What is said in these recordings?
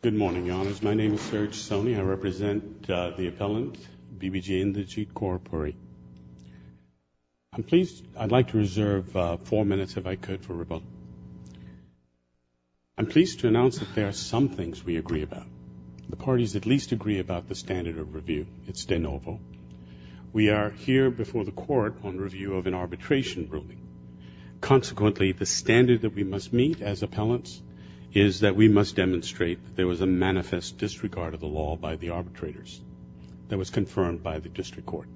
I'm pleased to announce that there are some things we agree about. The parties at least agree about the standard of review. It's de novo. We are here before the court on review of an arbitration ruling. Consequently, the standard that we must meet as appellants is that we must demonstrate that there was a manifest disregard of the law by the arbitrators that was confirmed by the district court.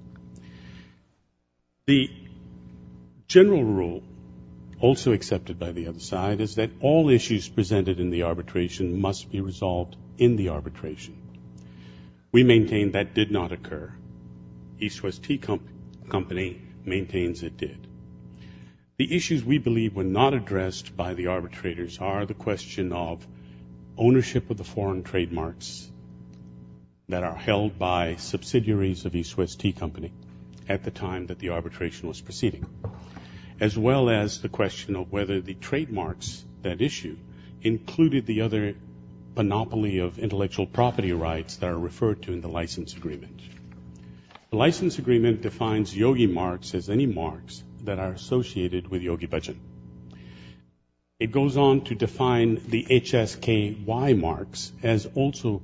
The general rule also accepted by the other side is that all issues presented in the arbitration must be resolved in the arbitration. We maintain that did not occur. East West Tea Company maintains it did. The issues we believe were not addressed by the arbitrators are the question of ownership of the foreign trademarks that are held by subsidiaries of East West Tea Company at the time that the arbitration was proceeding as well as the question of whether the trademarks that issue included the other monopoly of intellectual property rights that are referred to in the license agreement. The license agreement defines Yogi marks as any marks that are associated with Yogi Bhajan. It goes on to define the HSKY marks as also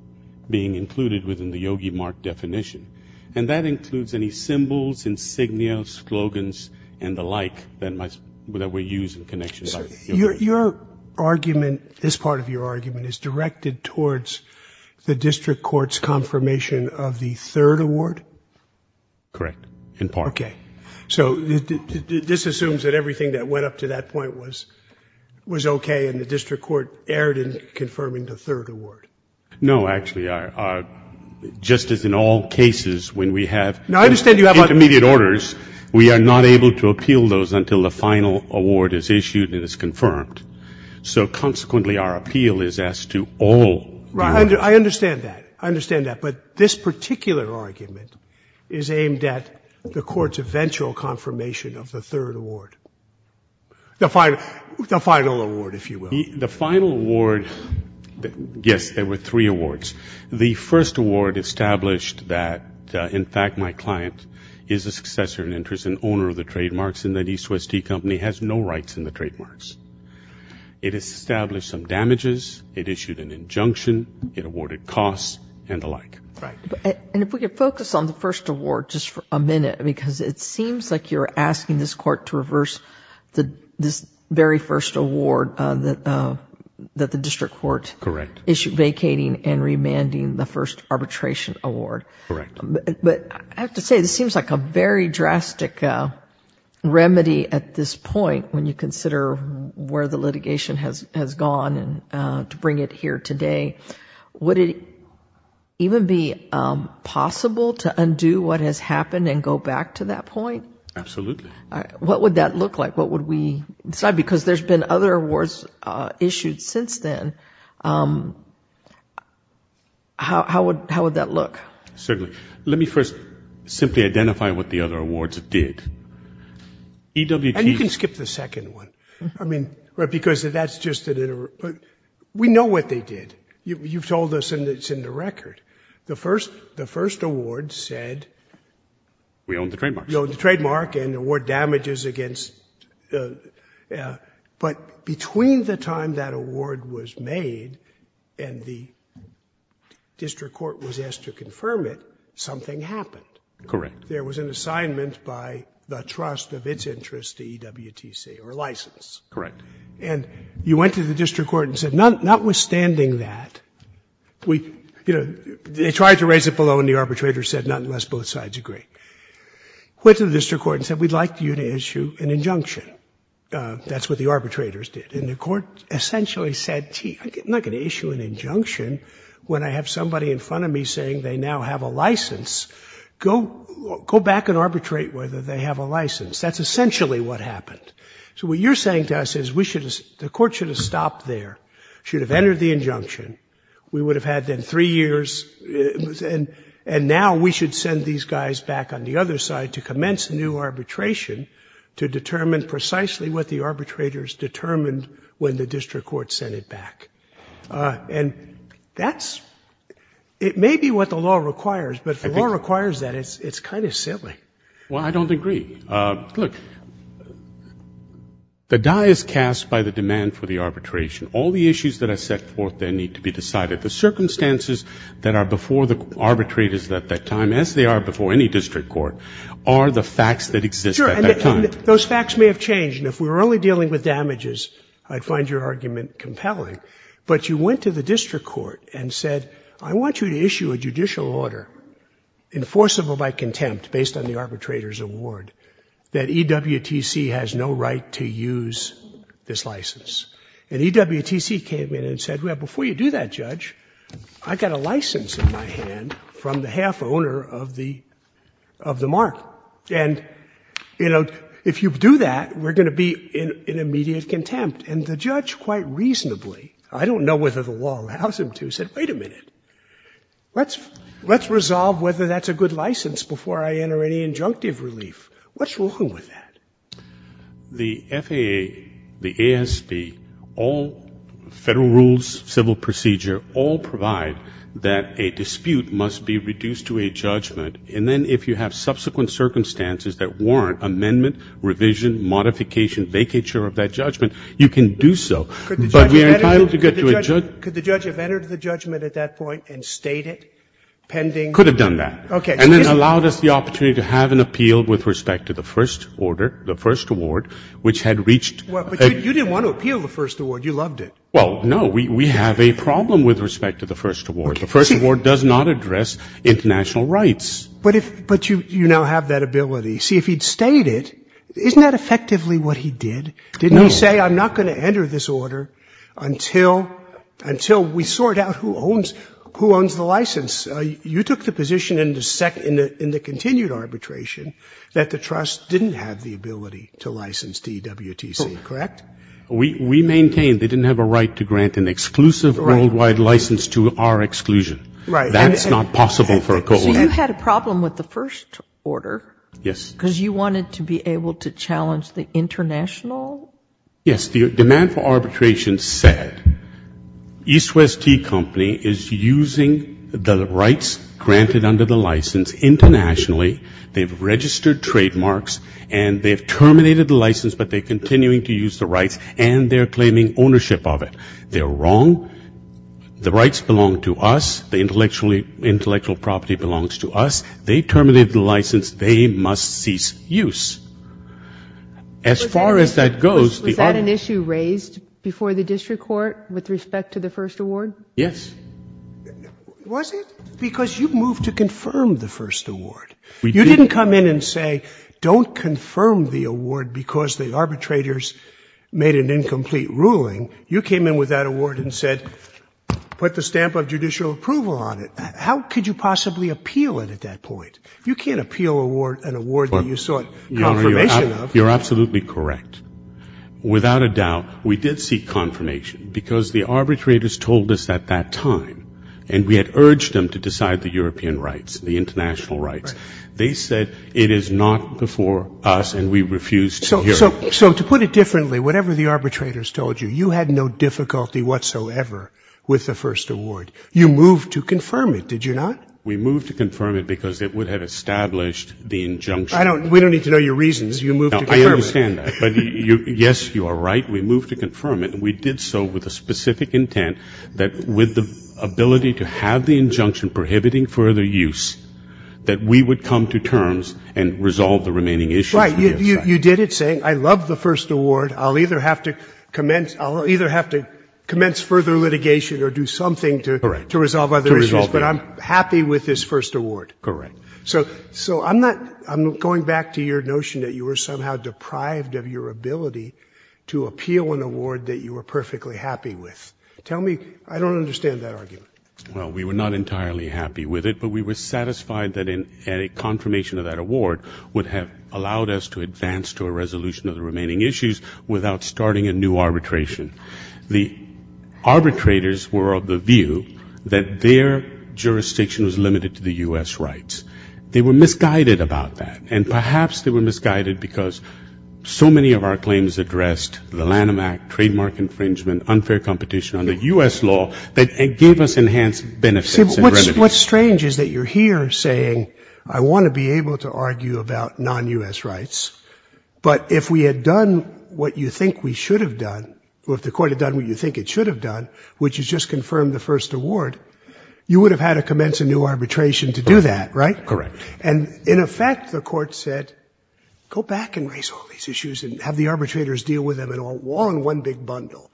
being included within the Yogi mark definition. And that includes any symbols, insignia, slogans and the like that were used in connection with Yogi Bhajan. Your argument, this part of your argument, is directed towards the district court's confirmation of the third award? Correct. In part. So this assumes that everything that went up to that point was okay and the district court erred in confirming the third award? No, actually. Just as in all cases when we have intermediate orders, we are not able to appeal those until the final award is issued and it is confirmed. So, consequently, our appeal is as to all. I understand that. I understand that. But this particular argument is aimed at the court's eventual confirmation of the third award. The final award, if you will. The final award, yes, there were three awards. The first award established that, in fact, my client is a successor in interest and owner of the trademarks and that East West Tea Company has no rights in the trademarks. It established some damages. It issued an injunction. It awarded costs and the like. And if we could focus on the first award just for a minute because it seems like you are asking this court to reverse this very first award that the district court issued vacating and remanding the first arbitration award. Correct. But I have to say this seems like a very drastic remedy at this point when you consider where the litigation has gone and to bring it here today. Would it even be possible to undo what has happened and go back to that point? Absolutely. What would that look like? What would we decide? Because there have been other awards issued since then. How would that look? Certainly. Let me first simply identify what the other awards did. And you can skip the second one. We know what they did. You've told us and it's in the record. The first award said... We own the trademarks. You own the trademark and award damages against... But between the time that award was issued and the permit, something happened. There was an assignment by the trust of its interest to EWTC or license. And you went to the district court and said notwithstanding that... They tried to raise it below and the arbitrator said not unless both sides agree. Went to the district court and said we'd like you to issue an injunction. That's what the arbitrators did. And the court essentially said, gee, I'm not going to issue an injunction when I have somebody in front of me saying they now have a license. Go back and arbitrate whether they have a license. That's essentially what happened. So what you're saying to us is we should have... the court should have stopped there. Should have entered the injunction. We would have had then three years. And now we should send these guys back on the other side to commence a new arbitration to determine precisely what the arbitrators determined when the district court sent it back. And that's... it may be what the law requires, but if the law requires that, it's kind of silly. Well, I don't agree. Look, the die is cast by the demand for the arbitration. All the issues that are set forth there need to be decided. The circumstances that are before the arbitrators at that time, as they are before any district court, are the facts that exist at that time. Sure. And those facts may have changed. And if we were only dealing with damages, I'd find your argument compelling. But you went to the district court and said, I want you to issue a judicial order enforceable by contempt, based on the arbitrator's award, that EWTC has no right to use this license. And EWTC came in and said, well, before you do that, Judge, I've got a license in my hand from the half-owner of the... And the judge, quite reasonably, I don't know whether the law allows him to, said, wait a minute, let's resolve whether that's a good license before I enter any injunctive relief. What's wrong with that? The FAA, the ASB, all federal rules, civil procedure, all provide that a dispute must be reduced to a judgment. And then if you have subsequent circumstances that warrant amendment, revision, modification, vacature of that judgment, you can do so. But we are entitled to get to a... Could the judge have entered the judgment at that point and stayed it pending... Could have done that. Okay. And then allowed us the opportunity to have an appeal with respect to the first order, the first award, which had reached... But you didn't want to appeal the first award. You loved it. Well, no. We have a problem with respect to the first award. The first award does not address international rights. But you now have that ability. See, if he'd stayed it, isn't that effectively what he did? No. Didn't he say, I'm not going to enter this order until we sort out who owns the license? You took the position in the continued arbitration that the trust didn't have the ability to license DWTC, correct? We maintained they didn't have a right to grant an exclusive worldwide license to our exclusion. Right. That's not possible for a co-owner. So you had a problem with the first order... Yes.... because you wanted to be able to challenge the international... Yes. The demand for arbitration said, EastWest Tea Company is using the rights granted under the license internationally. They've registered trademarks and they've terminated the license, but they're continuing to use the rights and they're claiming ownership of it. They're wrong. The rights belong to us. The intellectual property belongs to us. They terminated the license. They must cease use. As far as that goes... Was that an issue raised before the district court with respect to the first award? Yes. Was it? Because you moved to confirm the first award. You didn't come in and say, don't confirm the award because the arbitrators made an incomplete ruling. You came in with that award and said, put the stamp of judicial approval on it. How could you possibly appeal it at that point? You can't appeal an award that you sought confirmation of. You're absolutely correct. Without a doubt, we did seek confirmation because the arbitrators told us at that time, and we had urged them to decide the European rights, the international rights. Right. They said, it is not before us and we refused to hear it. So to put it differently, whatever the arbitrators told you, you had no difficulty whatsoever with the first award. You moved to confirm it, did you not? We moved to confirm it because it would have established the injunction. We don't need to know your reasons. You moved to confirm it. I understand that. But yes, you are right. We moved to confirm it. We did so with a specific intent that with the ability to have the injunction prohibiting further use, that we would come to terms and resolve the remaining issues. Right. You did it saying, I love the first award. I'll either have to commence further litigation or do something to resolve other issues. But I'm happy with this first award. Correct. So I'm going back to your notion that you were somehow deprived of your ability to appeal an award that you were perfectly happy with. Tell me, I don't understand that argument. Well, we were not entirely happy with it, but we were satisfied that a confirmation of that award would have allowed us to advance to a resolution of the remaining issues without starting a new arbitration. The arbitrators were of the view that their jurisdiction was limited to the U.S. rights. They were misguided about that. And perhaps they were misguided because so many of our claims addressed the Lanham Act, trademark infringement, unfair competition under U.S. law that gave us enhanced benefits. What's strange is that you're here saying, I want to be able to argue about non-U.S. rights, but if we had done what you think we should have done, or if the court had done what you think it should have done, which is just confirm the first award, you would have had to commence a new arbitration to do that, right? Correct. And in effect, the court said, go back and raise all these issues and have the arbitrators deal with them in one big bundle.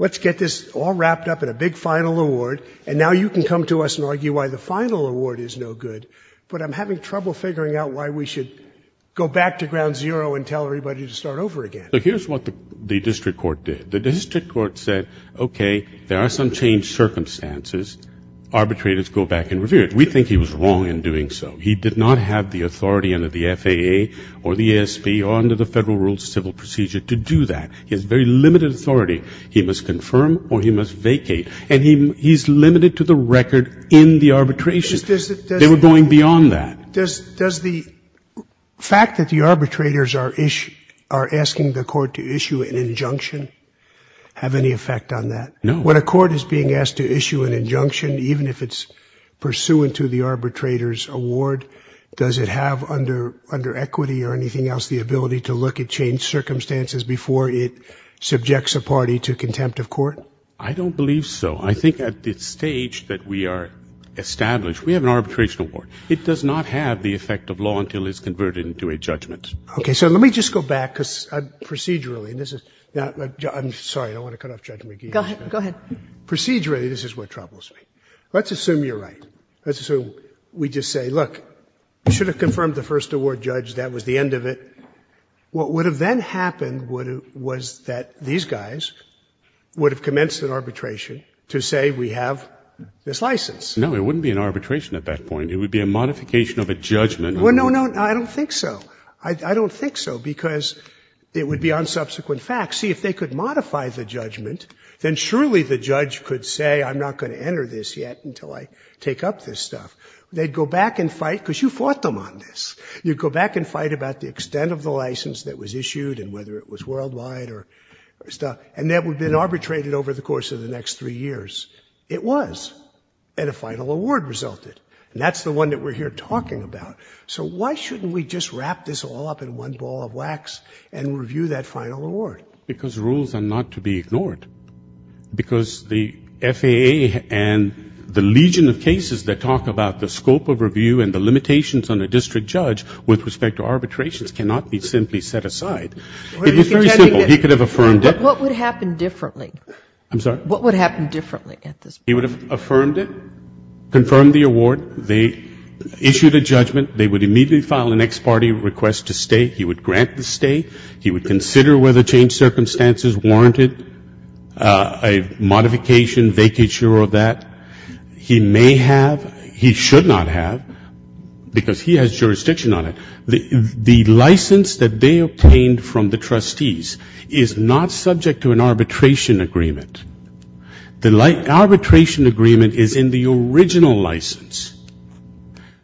Let's get this all wrapped up in a big final award. And now you can come to us and argue why the final award is no good, but I'm having trouble figuring out why we should go back to ground zero and tell everybody to start over again. So here's what the district court did. The district court said, okay, there are some changed circumstances. Arbitrators go back and revere it. We think he was wrong in doing so. He did not have the authority under the FAA or the ESP or under the Federal Rules of Civil Procedure to do that. He has very limited authority. He must confirm or he must vacate. And he's limited to the record in the arbitration. They were going beyond that. Does the fact that the arbitrators are asking the court to issue an injunction have any effect on that? No. When a court is being asked to issue an injunction, even if it's pursuant to the arbitrator's award, does it have under equity or anything else the ability to look at changed circumstances before it subjects a party to contempt of court? I don't believe so. I think at this stage that we are established, we have an arbitration award. It does not have the effect of law until it's converted into a judgment. Okay. So let me just go back, because procedurally, and this is, I'm sorry, I don't want to cut off Judge McGee. Go ahead. Procedurally, this is what troubles me. Let's assume you're right. Let's assume we just say, look, we should have confirmed the first award judge. That was the end of it. What would have then happened was that these guys would have commenced an arbitration to say we have this license. No, it wouldn't be an arbitration at that point. It would be a modification of a judgment. Well, no, no, I don't think so. I don't think so, because it would be on subsequent facts. See, if they could modify the judgment, then surely the judge could say I'm not going to enter this yet until I take up this stuff. They'd go back and fight, because you fought them on this. You'd go back and fight about the extent of the license that was issued and whether it was worldwide or stuff, and that would have been arbitrated over the course of the next three years. It was. And a final award resulted. And that's the one that we're here talking about. So why shouldn't we just wrap this all up in one ball of wax and review that final award? Because rules are not to be ignored. Because the FAA and the legion of cases that talk about the scope of review and the limitations on a district judge with respect to arbitrations cannot be simply set aside. It is very simple. He could have affirmed it. But what would happen differently? I'm sorry? What would happen differently at this point? He would have affirmed it, confirmed the award. They issued a judgment. They would immediately file an ex parte request to stay. He would grant the stay. He would consider whether changed circumstances warranted a modification, vacature, or that. He may have, he should not have, because he has jurisdiction on it. The license that they obtained from the trustees is not subject to an arbitration agreement. The arbitration agreement is in the original license.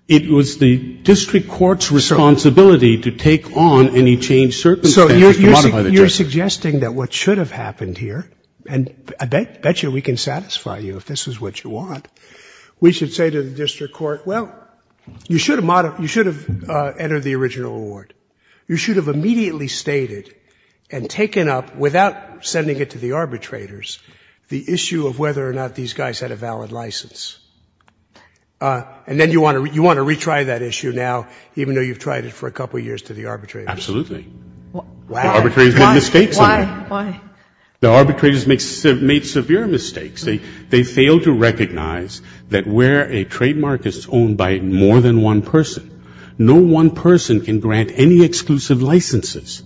It was the district court's responsibility to take on any changed circumstances. So you're suggesting that what should have happened here, and I bet you we can satisfy you if this is what you want. We should say to the district court, well, you should have entered the original award. You should have immediately stated and taken up, without sending it to the arbitrators, the issue of whether or not these guys had a valid license. And then you want to retry that issue now, even though you've tried it for a couple years to the arbitrators. Absolutely. Wow. The arbitrators made mistakes on that. Why? The arbitrators made severe mistakes. They failed to recognize that where a trademark is owned by more than one person, no one person can grant any exclusive licenses.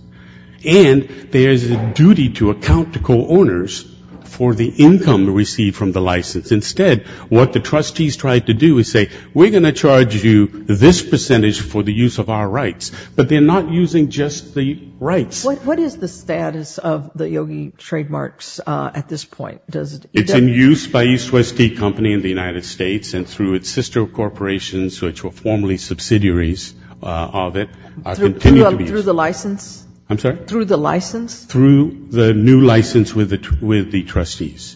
And there's a duty to account to co-owners for the income received from the license. Instead, what the trustees tried to do is say, we're going to charge you this percentage for the use of our rights. But they're not using just the rights. What is the status of the Yogi trademarks at this point? It's in use by EastWest D Company in the United States and through its sister corporations, which were formerly subsidiaries of it, are continuing to be used. Through the license? I'm sorry? Through the license? Through the new license with the trustees.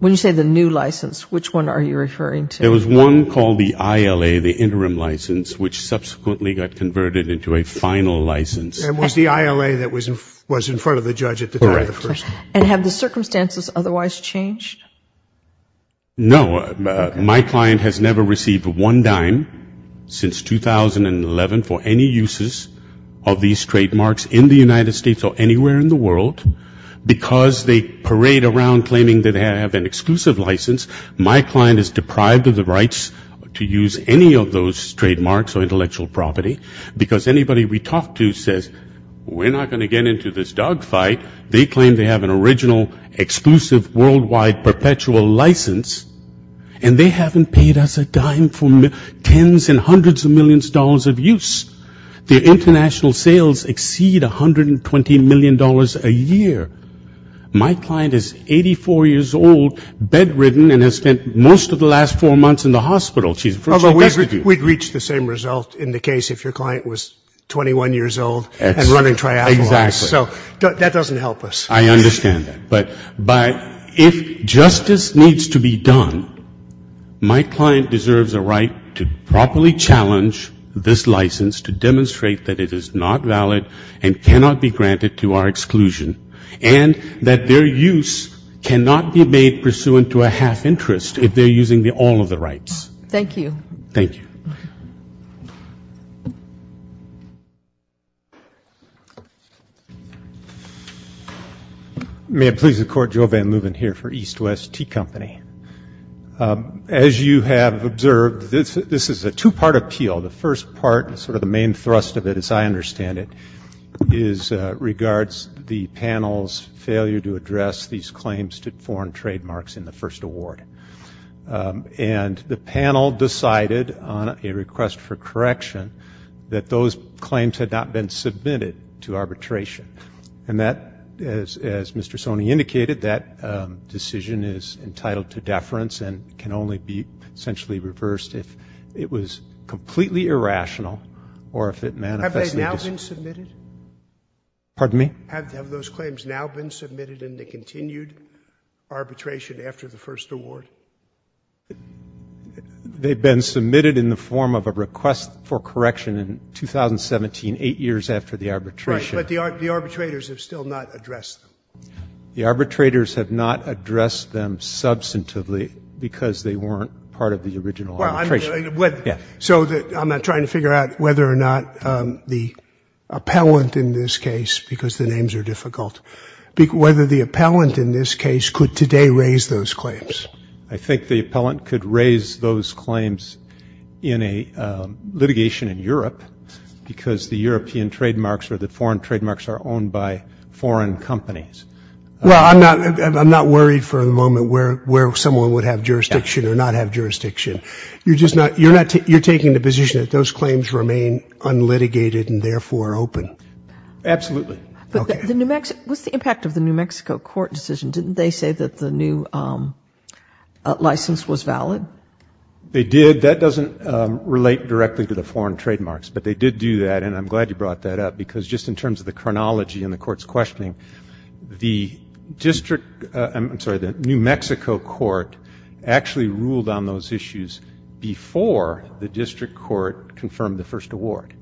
When you say the new license, which one are you referring to? There was one called the ILA, the interim license, which subsequently got converted into a final license. It was the ILA that was in front of the judge at the time? Correct. And have the circumstances otherwise changed? No. My client has never received one dime since 2011 for any uses of these trademarks in the United States or anywhere in the world. Because they parade around claiming that they have an exclusive license, my client is deprived of the rights to use any of those trademarks or intellectual property, because anybody we talk to says, we're not going to get into this dog fight. They claim they have an original, exclusive, worldwide, perpetual license, and they haven't paid us a dime for tens and hundreds of millions of dollars of use. Their international sales exceed $120 million a year. My client is 84 years old, bedridden, and has spent most of the last four months in the hospital. We'd reach the same result in the case if your client was 21 years old and running triathlons. Exactly. So that doesn't help us. I understand that. But if justice needs to be done, my client deserves a right to properly challenge this license, to demonstrate that it is not valid and cannot be granted to our exclusion, and that their use cannot be made pursuant to a half interest if they're using all of the rights. Thank you. Thank you. Thank you. May it please the Court, Joe Van Leuven here for EastWest Tea Company. As you have observed, this is a two-part appeal. The first part, sort of the main thrust of it as I understand it, is regards the panel's failure to address these claims to foreign trademarks in the first award. And the panel decided on a request for correction that those claims had not been submitted to arbitration. And that, as Mr. Sony indicated, that decision is entitled to deference and can only be essentially reversed if it was completely irrational or if it manifested. Have they now been submitted? Pardon me? Have those claims now been submitted into continued arbitration after the first award? They've been submitted in the form of a request for correction in 2017, 8 years after the arbitration. Right, but the arbitrators have still not addressed them. The arbitrators have not addressed them substantively because they weren't part of the original arbitration. So I'm not trying to figure out whether or not the appellant in this case, because the names are difficult, whether the appellant in this case could today raise those claims. I think the appellant could raise those claims in a litigation in Europe because the European trademarks or the foreign trademarks are owned by foreign companies. Well, I'm not worried for the moment where someone would have jurisdiction or not have jurisdiction. You're just not, you're taking the position that those claims remain unlitigated and therefore open? Absolutely. Okay. But the New Mexico, what's the impact of the New Mexico court decision? Didn't they say that the new license was valid? They did. That doesn't relate directly to the foreign trademarks, but they did do that. And I'm glad you brought that up because just in terms of the chronology and the court's questioning, the district, I'm sorry, the New Mexico court actually ruled on those issues before the district court confirmed the first award.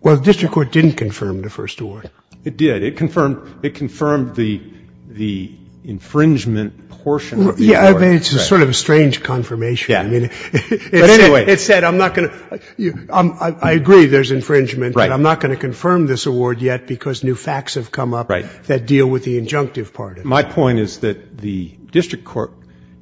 Well, the district court didn't confirm the first award. It did. It confirmed the infringement portion of the award. Yeah, I mean, it's sort of a strange confirmation. Yeah. But anyway. It said I'm not going to, I agree there's infringement, but I'm not going to confirm this award yet because new facts have come up that deal with the injunctive part. My point is that the district court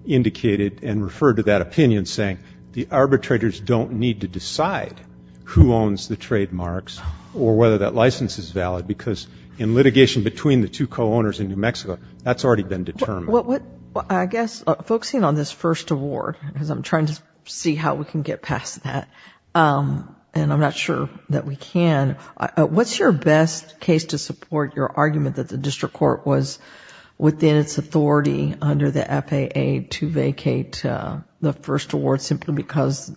indicated and referred to that opinion saying the arbitrators don't need to decide who owns the trademarks or whether that license is valid because in litigation between the two co-owners in New Mexico, that's already been determined. I guess focusing on this first award because I'm trying to see how we can get past that, and I'm not sure that we can, what's your best case to support your argument that the district court was within its authority under the FAA to vacate the first award simply because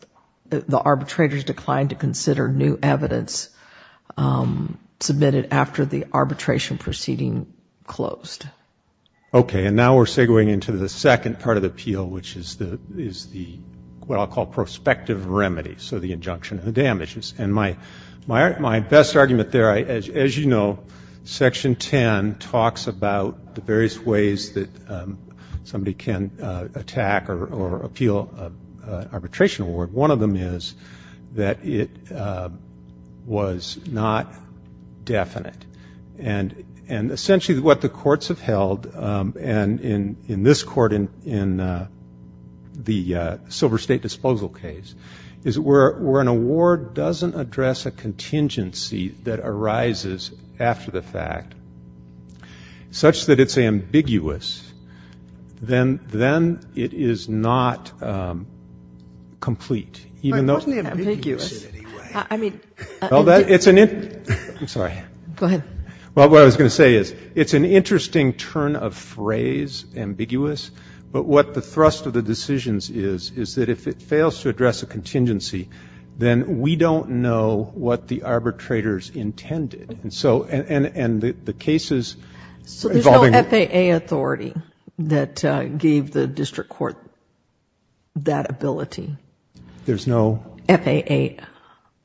the arbitrators declined to consider new evidence submitted after the arbitration proceeding closed? Okay. And now we're segueing into the second part of the appeal, which is what I'll call prospective remedy, so the injunction and the damages. And my best argument there, as you know, Section 10 talks about the various ways that somebody can attack or appeal an arbitration award. One of them is that it was not definite. And essentially what the courts have held, and in this court, in the Silver State disposal case, is where an award doesn't address a contingency that arises after the fact such that it's ambiguous, then it is not complete. But it wasn't ambiguous in any way. I'm sorry. Go ahead. Well, what I was going to say is it's an interesting turn of phrase, ambiguous, but what the thrust of the decisions is, is that if it fails to address a contingency, then we don't know what the arbitrators intended. And so, and the cases involving... So there's no FAA authority that gave the district court that ability? There's no... FAA.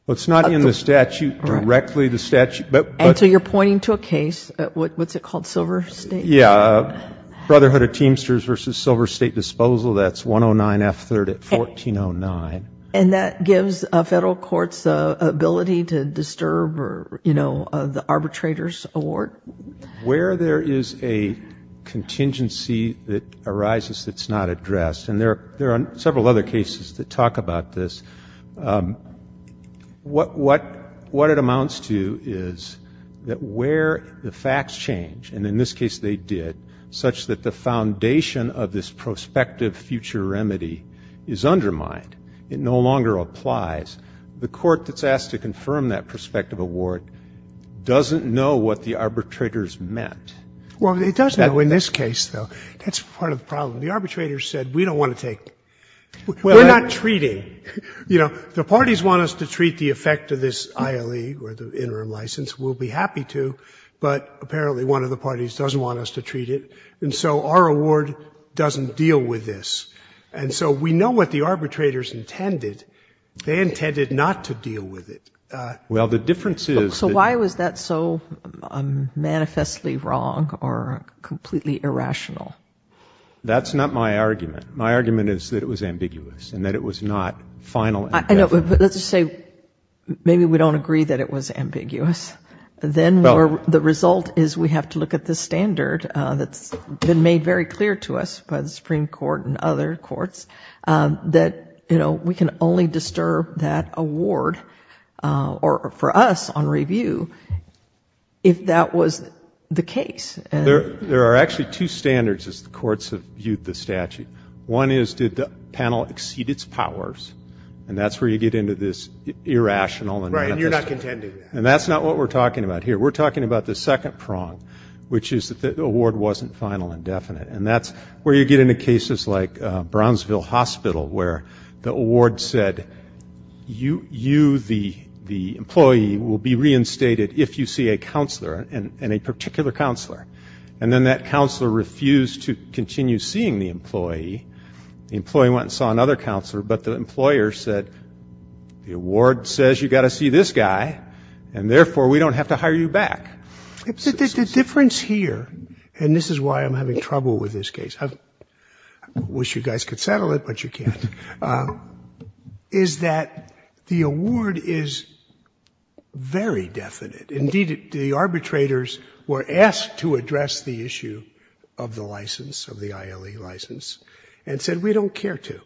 Well, it's not in the statute, directly the statute, but... And so you're pointing to a case, what's it called, Silver State? Yeah, Brotherhood of Teamsters v. Silver State Disposal. That's 109F3rd at 1409. And that gives a federal court's ability to disturb or, you know, the arbitrator's award? Where there is a contingency that arises that's not addressed, and there are several other cases that talk about this, what it amounts to is that where the facts change, and in this case they did, such that the foundation of this prospective future remedy is undermined, it no longer applies, the court that's asked to confirm that prospective award doesn't know what the arbitrators meant. Well, it does know in this case, though. That's part of the problem. The arbitrators said, we don't want to take... we're not treating. You know, the parties want us to treat the effect of this ILE, or the interim license, we'll be happy to, but apparently one of the parties doesn't want us to treat it, and so our award doesn't deal with this. And so we know what the arbitrators intended. They intended not to deal with it. Well, the difference is... So why was that so manifestly wrong or completely irrational? That's not my argument. My argument is that it was ambiguous and that it was not final... I know, but let's just say maybe we don't agree that it was ambiguous. Then the result is we have to look at the standard that's been made very clear to us by the Supreme Court and other courts that, you know, we can only disturb that award, or for us on review, if that was the case. There are actually two standards, as the courts have viewed the statute. One is, did the panel exceed its powers? And that's where you get into this irrational... Right, and you're not contending. And that's not what we're talking about here. We're talking about the second prong, which is that the award wasn't final and definite. And that's where you get into cases like Brownsville Hospital, where the award said, you, the employee, will be reinstated if you see a counselor, and a particular counselor. And then that counselor refused to continue seeing the employee. The employee went and saw another counselor, but the employer said, the award says you've got to see this guy, and therefore we don't have to hire you back. The difference here, and this is why I'm having trouble with this case, I wish you guys could settle it, but you can't, is that the award is very definite. Indeed, the arbitrators were asked to address the issue of the license, of the ILE license, and said, we don't care to.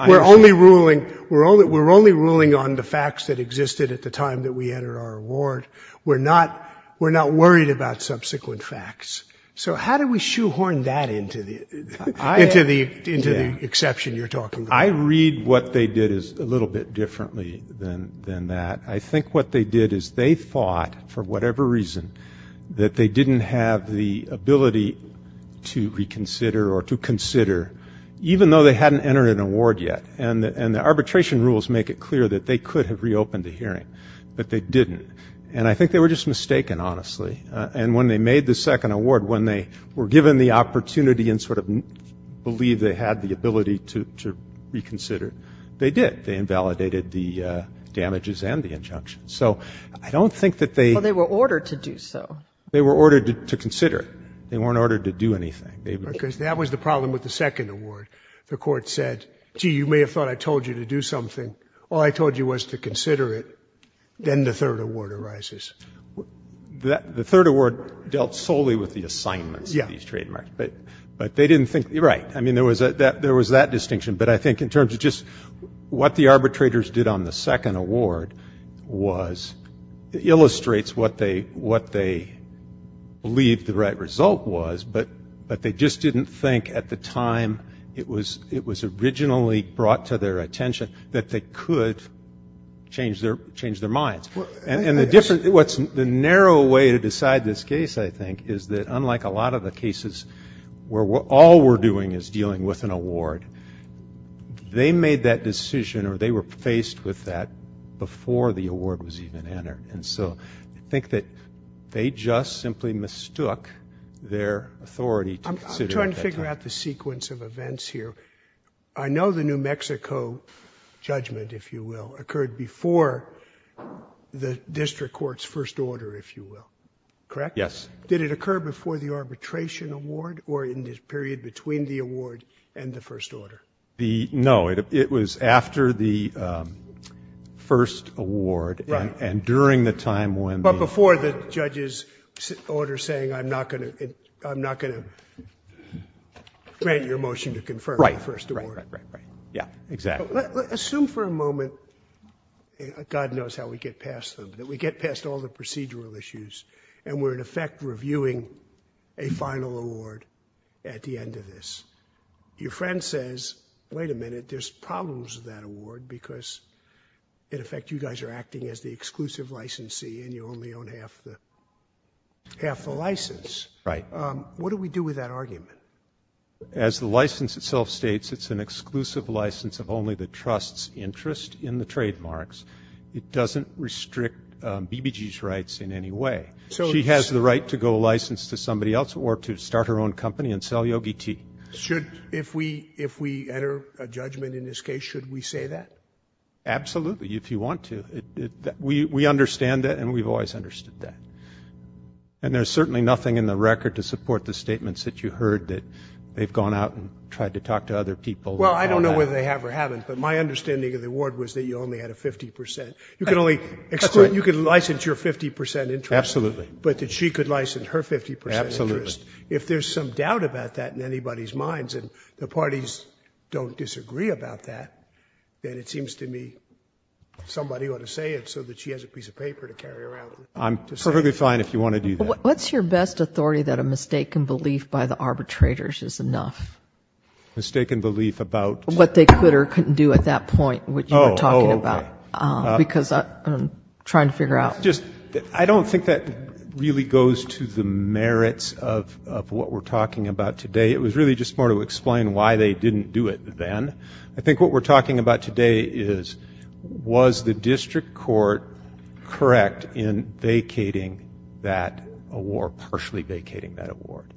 We're only ruling on the facts that existed at the time that we entered our award. We're not worried about subsequent facts. So how do we shoehorn that into the exception you're talking about? I read what they did a little bit differently than that. I think what they did is they thought, for whatever reason, that they didn't have the ability to reconsider or to consider, even though they hadn't entered an award yet. And the arbitration rules make it clear that they could have reopened the hearing, but they didn't. And I think they were just mistaken, honestly, and when they made the second award, when they were given the opportunity and sort of believed they had the ability to reconsider, they did. They invalidated the damages and the injunctions. Well, they were ordered to do so. They were ordered to consider it. They weren't ordered to do anything. Because that was the problem with the second award. The court said, gee, you may have thought I told you to do something. All I told you was to consider it. Then the third award arises. The third award dealt solely with the assignments of these trademarks. But they didn't think, right, I mean, there was that distinction. But I think in terms of just what the arbitrators did on the second award was, it illustrates what they believed the right result was, but they just didn't think at the time it was originally brought to their attention that they could change their minds. And the narrow way to decide this case, I think, is that unlike a lot of the cases where all we're doing is dealing with an award, they made that decision or they were faced with that before the award was even entered. And so I think that they just simply mistook their authority to consider it at that time. I'm trying to figure out the sequence of events here. I know the New Mexico judgment, if you will, occurred before the district court's first order, if you will. Correct? Yes. Did it occur before the arbitration award or in the period between the award and the first order? No, it was after the first award and during the time when the... But before the judge's order saying, I'm not going to grant your motion to confirm the first award. Right, right, right. Yeah, exactly. Assume for a moment, God knows how we get past them, that we get past all the procedural issues and we're in effect reviewing a final award at the end of this. Your friend says, wait a minute, there's problems with that award because in effect you guys are acting as the exclusive licensee and you only own half the license. Right. What do we do with that argument? As the license itself states, it's an exclusive license of only the trust's interest in the trademarks. It doesn't restrict BBG's rights in any way. She has the right to go license to somebody else or to start her own company and sell yogi tea. If we enter a judgment in this case, should we say that? Absolutely, if you want to. We understand that and we've always understood that. And there's certainly nothing in the record to support the statements that you heard that they've gone out and tried to talk to other people about that. Well, I don't know whether they have or haven't, but my understanding of the award was that you only had a 50%. You could only license your 50% interest. Absolutely. But that she could license her 50% interest. Absolutely. If there's some doubt about that in anybody's minds and the parties don't disagree about that, then it seems to me somebody ought to say it so that she has a piece of paper to carry around. I'm perfectly fine if you want to do that. What's your best authority that a mistaken belief by the arbitrators is enough? Mistaken belief about? What they could or couldn't do at that point, which you were talking about. Because I'm trying to figure out. I don't think that really goes to the merits of what we're talking about today. It was really just more to explain why they didn't do it then. I think what we're talking about today is was the district court correct in vacating that award, partially vacating that award.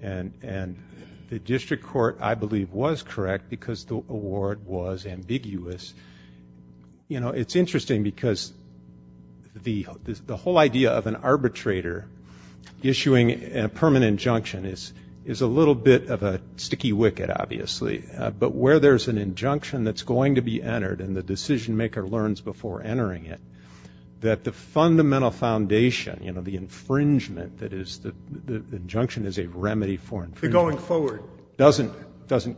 And the district court, I believe, was correct because the award was ambiguous. It's interesting because the whole idea of an arbitrator issuing a permanent injunction is a little bit of a sticky wicket, obviously, but where there's an injunction that's going to be entered and the decision maker learns before entering it that the fundamental foundation, you know, the infringement that is the injunction is a remedy for infringement. The going forward.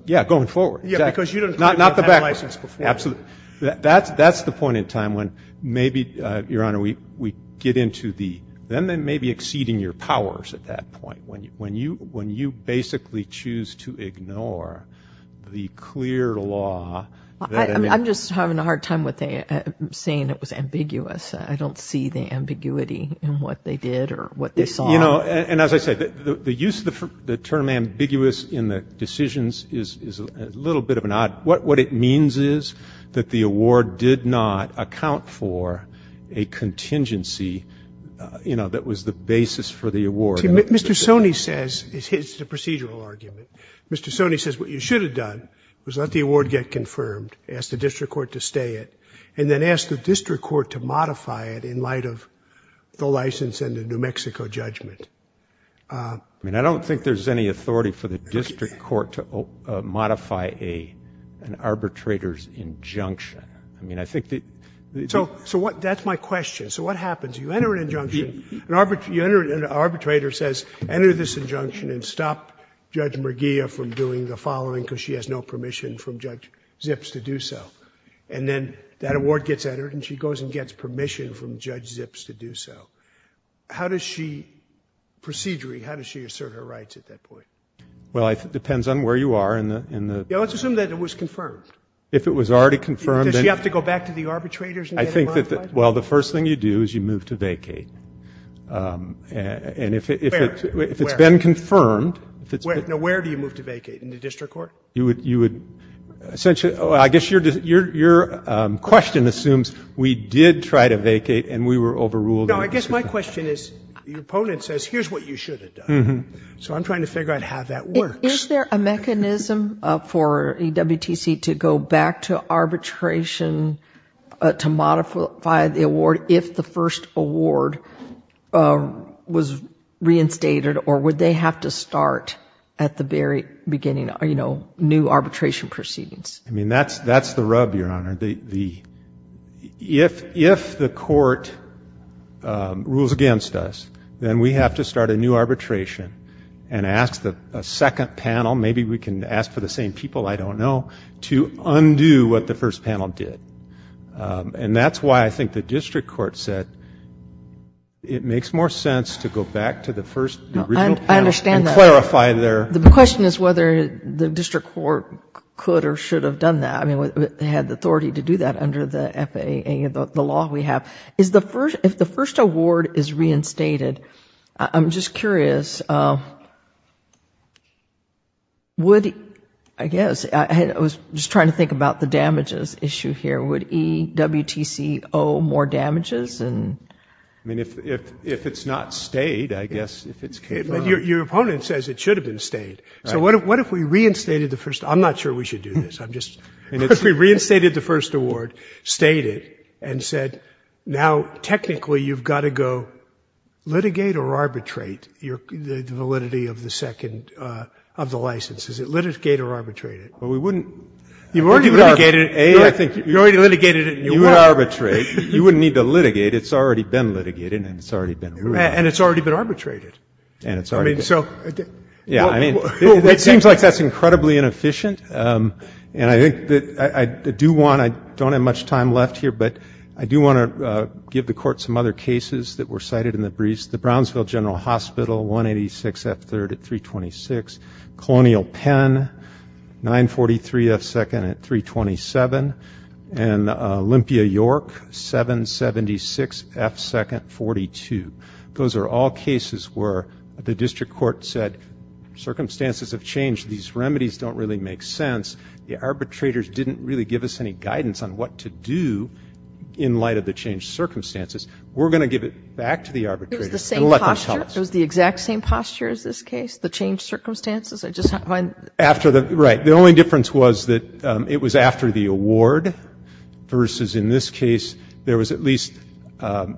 Yeah, going forward. Yeah, because you didn't have that license before. Absolutely. That's the point in time when maybe, Your Honor, we get into the then maybe exceeding your powers at that point, when you basically choose to ignore the clear law. I'm just having a hard time with saying it was ambiguous. I don't see the ambiguity in what they did or what they saw. You know, and as I said, the use of the term ambiguous in the decisions is a little bit of an odd. What it means is that the award did not account for a contingency, you know, that was the basis for the award. Mr. Sone says, it's a procedural argument. Mr. Sone says what you should have done was let the award get confirmed, ask the district court to stay it, and then ask the district court to modify it in light of the license and the New Mexico judgment. I mean, I don't think there's any authority for the district court to modify an arbitrator's injunction. I mean, I think that. So that's my question. So what happens? You enter an injunction. An arbitrator says, enter this injunction and stop Judge Merguia from doing the following because she has no permission from Judge Zips to do so. And then that award gets entered and she goes and gets permission from Judge Zips to do so. How does she, procedurally, how does she assert her rights at that point? Well, it depends on where you are in the. Yeah, let's assume that it was confirmed. If it was already confirmed. Does she have to go back to the arbitrators? I think that, well, the first thing you do is you move to vacate. And if it's been confirmed. Now, where do you move to vacate? In the district court? You would, essentially, I guess your question assumes we did try to vacate and we were overruled. No, I guess my question is, your opponent says here's what you should have done. So I'm trying to figure out how that works. Is there a mechanism for EWTC to go back to arbitration to modify the award if the first award was reinstated? Or would they have to start at the very beginning, you know, new arbitration proceedings? I mean, that's the rub, Your Honor. If the court rules against us, then we have to start a new arbitration and ask a second panel, maybe we can ask for the same people, I don't know, to undo what the first panel did. And that's why I think the district court said it makes more sense to go back to the first panel. I understand that. And clarify their. The question is whether the district court could or should have done that. I mean, had the authority to do that under the FAA, the law we have. If the first award is reinstated, I'm just curious, would, I guess, I was just trying to think about the damages issue here. Would EWTC owe more damages? I mean, if it's not stayed, I guess, if it's. Your opponent says it should have been stayed. So what if we reinstated the first? I'm not sure we should do this. I'm just, what if we reinstated the first award, stayed it, and said, now, technically, you've got to go litigate or arbitrate the validity of the second, of the license? Is it litigate or arbitrate it? Well, we wouldn't. You've already litigated it. A, I think. You've already litigated it and you won't. You would arbitrate. You wouldn't need to litigate. It's already been litigated and it's already been ruled. And it's already been arbitrated. And it's already been. I mean, so. Yeah, I mean, it seems like that's incredibly inefficient. And I think that I do want, I don't have much time left here, but I do want to give the court some other cases that were cited in the briefs. The Brownsville General Hospital, 186F3rd at 326. Colonial Penn, 943F2nd at 327. And Olympia York, 776F2nd, 42. Those are all cases where the district court said, circumstances have changed. These remedies don't really make sense. The arbitrators didn't really give us any guidance on what to do in light of the changed circumstances. We're going to give it back to the arbitrators and let them tell us. It was the same posture? It was the exact same posture as this case? The changed circumstances? I just find. After the, right. The only difference was that it was after the award versus, in this case, there was at least a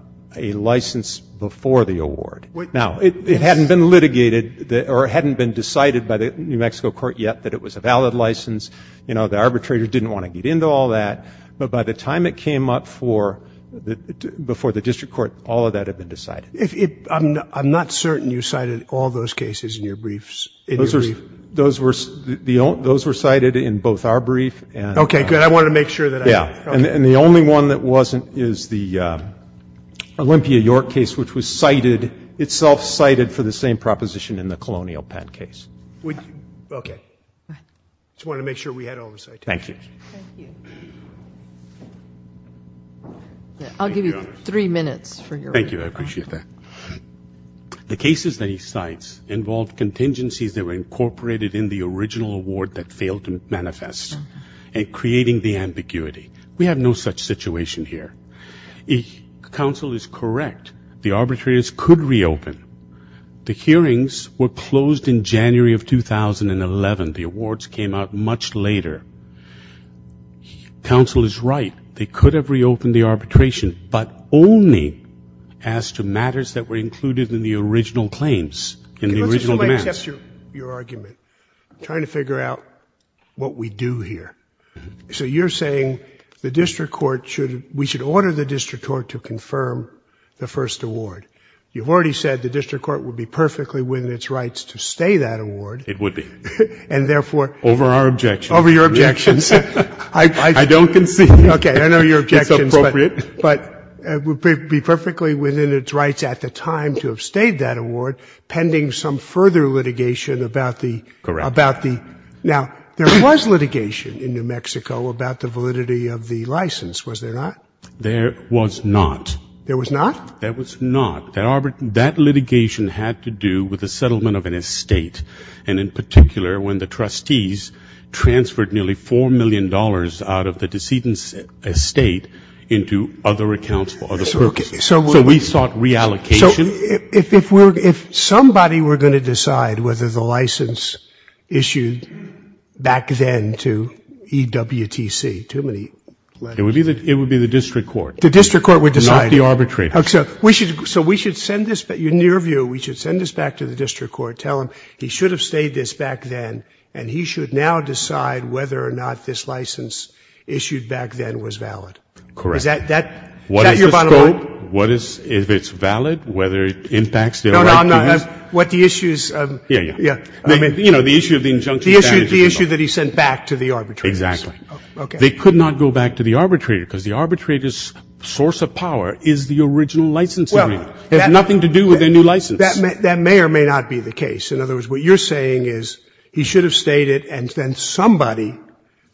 license before the award. Now, it hadn't been litigated or hadn't been decided by the New Mexico court yet that it was a valid license. You know, the arbitrator didn't want to get into all that. But by the time it came up before the district court, all of that had been decided. I'm not certain you cited all those cases in your briefs. Those were cited in both our briefs. Okay, good. I wanted to make sure. Yeah, and the only one that wasn't is the Olympia York case, which was cited, itself cited for the same proposition in the Colonial Penn case. Okay. I just wanted to make sure we had oversight. Thank you. Thank you. I'll give you three minutes for your. Thank you. I appreciate that. The cases that he cites involved contingencies that were incorporated in the original award that failed to manifest, and creating the ambiguity. We have no such situation here. Counsel is correct. The arbitrators could reopen. The hearings were closed in January of 2011. The awards came out much later. Counsel is right. They could have reopened the arbitration, but only as to matters that were included in the original claims, in the original demands. Let me test your argument. I'm trying to figure out what we do here. So you're saying the district court should, we should order the district court to confirm the first award. You've already said the district court would be perfectly within its rights to stay that award. It would be. And therefore. Over our objections. Over your objections. I don't concede. Okay, I know your objections. It's appropriate. But it would be perfectly within its rights at the time to have stayed that award, pending some further litigation about the. Correct. Now, there was litigation in New Mexico about the validity of the license, was there not? There was not. There was not? There was not. That litigation had to do with the settlement of an estate, and in particular when the trustees transferred nearly $4 million out of the decedent's estate into other accounts for other purposes. So we sought reallocation. So if somebody were going to decide whether the license issued back then to EWTC, too many letters. It would be the district court. The district court would decide. Not the arbitrator. So we should send this, in your view, we should send this back to the district court, tell him he should have stayed this back then, and he should now decide whether or not this license issued back then was valid. Correct. Is that your bottom line? What is the scope? If it's valid, whether it impacts their right to use. No, no, I'm not. What the issue is. Yeah, yeah. You know, the issue of the injunction. The issue that he sent back to the arbitrator. Exactly. Okay. They could not go back to the arbitrator because the arbitrator's source of power is the original license agreement. It has nothing to do with their new license. That may or may not be the case. In other words, what you're saying is he should have stayed it, and then somebody,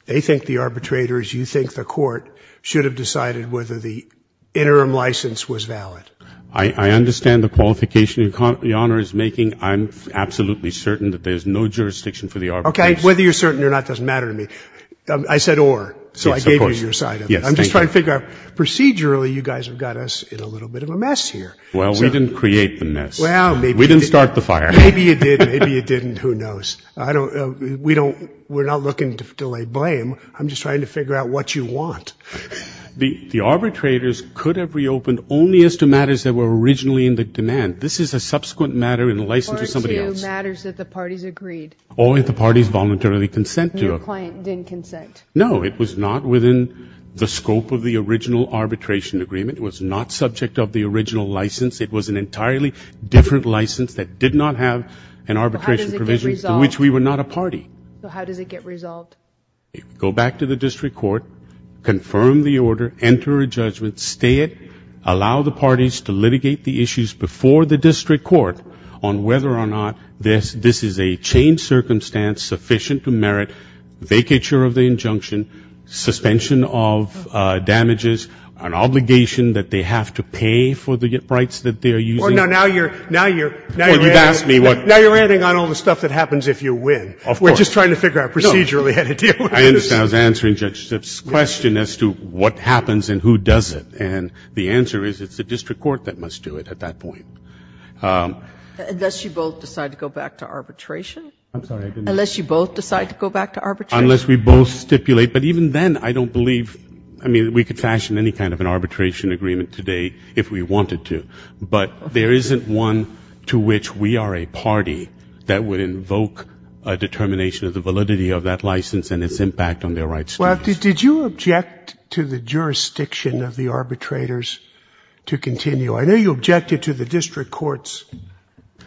they think the arbitrators, you think the court should have decided whether the interim license was valid. I understand the qualification your Honor is making. I'm absolutely certain that there's no jurisdiction for the arbitration. Okay, whether you're certain or not doesn't matter to me. I said or, so I gave you your side of it. I'm just trying to figure out procedurally you guys have got us in a little bit of a mess here. Well, we didn't create the mess. We didn't start the fire. Maybe you did. Maybe you didn't. Who knows? We're not looking to lay blame. I'm just trying to figure out what you want. The arbitrators could have reopened only as to matters that were originally in the demand. This is a subsequent matter in the license to somebody else. Or to matters that the parties agreed. Or if the parties voluntarily consent to it. No, it was not within the scope of the original arbitration agreement. It was not subject of the original license. It was an entirely different license that did not have an arbitration provision to which we were not a party. So how does it get resolved? Go back to the district court. Confirm the order. Enter a judgment. Stay it. Allow the parties to litigate the issues before the district court on whether or not this is a changed circumstance sufficient to merit vacature of the injunction, suspension of damages, an obligation that they have to pay for the rights that they are using. Now you're ending on all the stuff that happens if you win. Of course. We're just trying to figure out procedurally how to deal with this. I understand. I was answering Judge Zipf's question as to what happens and who does it. And the answer is it's the district court that must do it at that point. Unless you both decide to go back to arbitration? I'm sorry. Unless you both decide to go back to arbitration? Unless we both stipulate. But even then, I don't believe we could fashion any kind of an arbitration agreement today if we wanted to. But there isn't one to which we are a party that would invoke a determination of the validity of that license and its impact on their rights. Well, did you object to the jurisdiction of the arbitrators to continue? I know you objected to the district court's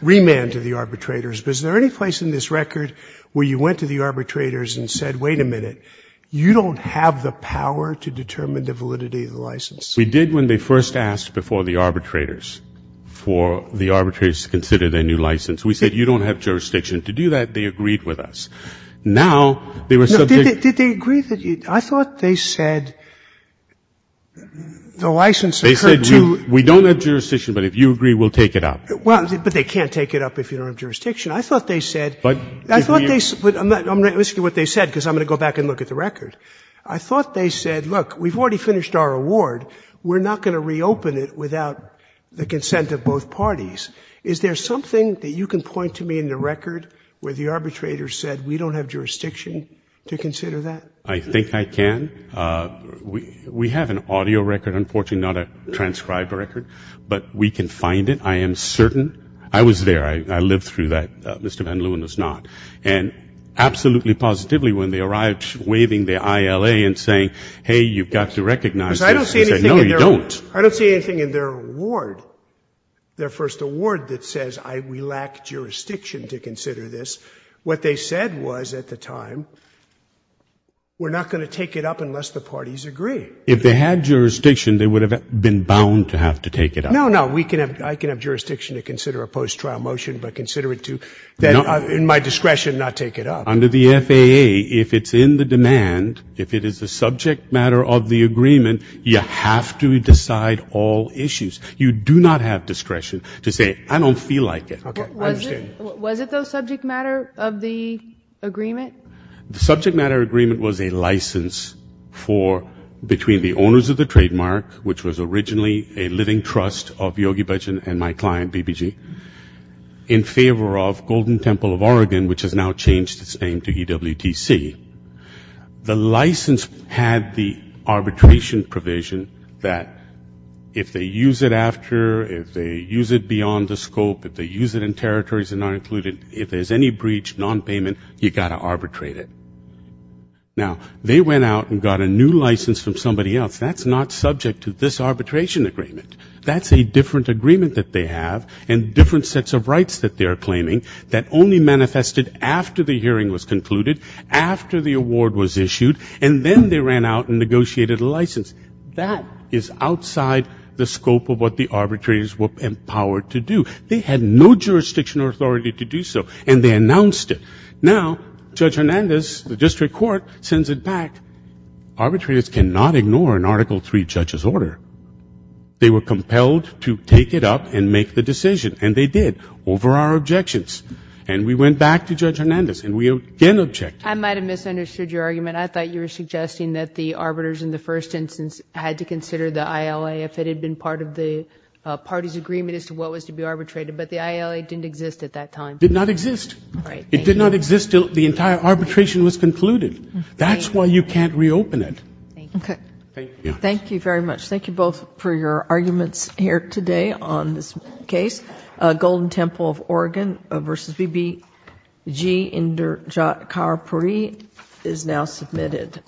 remand to the arbitrators. But is there any place in this record where you went to the arbitrators and said, wait a minute, you don't have the power to determine the validity of the license? We did when they first asked before the arbitrators for the arbitrators to consider their new license. We said, you don't have jurisdiction to do that. They agreed with us. Now they were subject to ---- Did they agree? I thought they said the license occurred to ---- We don't have jurisdiction. But if you agree, we'll take it up. Well, but they can't take it up if you don't have jurisdiction. I thought they said ---- But if we ---- I thought they ---- I'm risking what they said because I'm going to go back and look at the record. I thought they said, look, we've already finished our award. We're not going to reopen it without the consent of both parties. Is there something that you can point to me in the record where the arbitrators said we don't have jurisdiction to consider that? I think I can. We have an audio record, unfortunately, not a transcribed record. But we can find it. I am certain. I was there. I lived through that. Mr. Van Leeuwen was not. And absolutely positively, when they arrived waving the ILA and saying, hey, you've got to recognize this, they said, no, you don't. I don't see anything in their award, their first award that says we lack jurisdiction to consider this. What they said was at the time, we're not going to take it up unless the parties agree. If they had jurisdiction, they would have been bound to have to take it up. No, no. I can have jurisdiction to consider a post-trial motion, but consider it to, in my discretion, not take it up. Under the FAA, if it's in the demand, if it is a subject matter of the agreement, you have to decide all issues. You do not have discretion to say, I don't feel like it. Okay. Was it, though, subject matter of the agreement? The subject matter agreement was a license for, between the owners of the trademark, which was originally a living trust of Yogi Bhajan and my client, BBG, in favor of Golden Temple of Oregon, which has now changed its name to EWTC. The license had the arbitration provision that if they use it after, if they use it beyond the scope, if they use it in territories that are not included, if there's any breach, nonpayment, you've got to arbitrate it. Now, they went out and got a new license from somebody else. That's not subject to this arbitration agreement. That's a different agreement that they have and different sets of rights that they are claiming that only manifested after the hearing was concluded, after the award was issued, and then they ran out and negotiated a license. That is outside the scope of what the arbitrators were empowered to do. They had no jurisdiction or authority to do so, and they announced it. Now, Judge Hernandez, the district court, sends it back. Arbitrators cannot ignore an Article III judge's order. They were compelled to take it up and make the decision, and they did, over our objections. And we went back to Judge Hernandez, and we again objected. I might have misunderstood your argument. I thought you were suggesting that the arbiters in the first instance had to consider the ILA if it had been part of the party's agreement as to what was to be arbitrated, but the ILA didn't exist at that time. It did not exist. It did not exist until the entire arbitration was concluded. That's why you can't reopen it. Okay. Thank you. Thank you very much. Thank you both for your arguments here today on this case. The Golden Temple of Oregon v. B.B.G. Inderjit Kaur Puri is now submitted.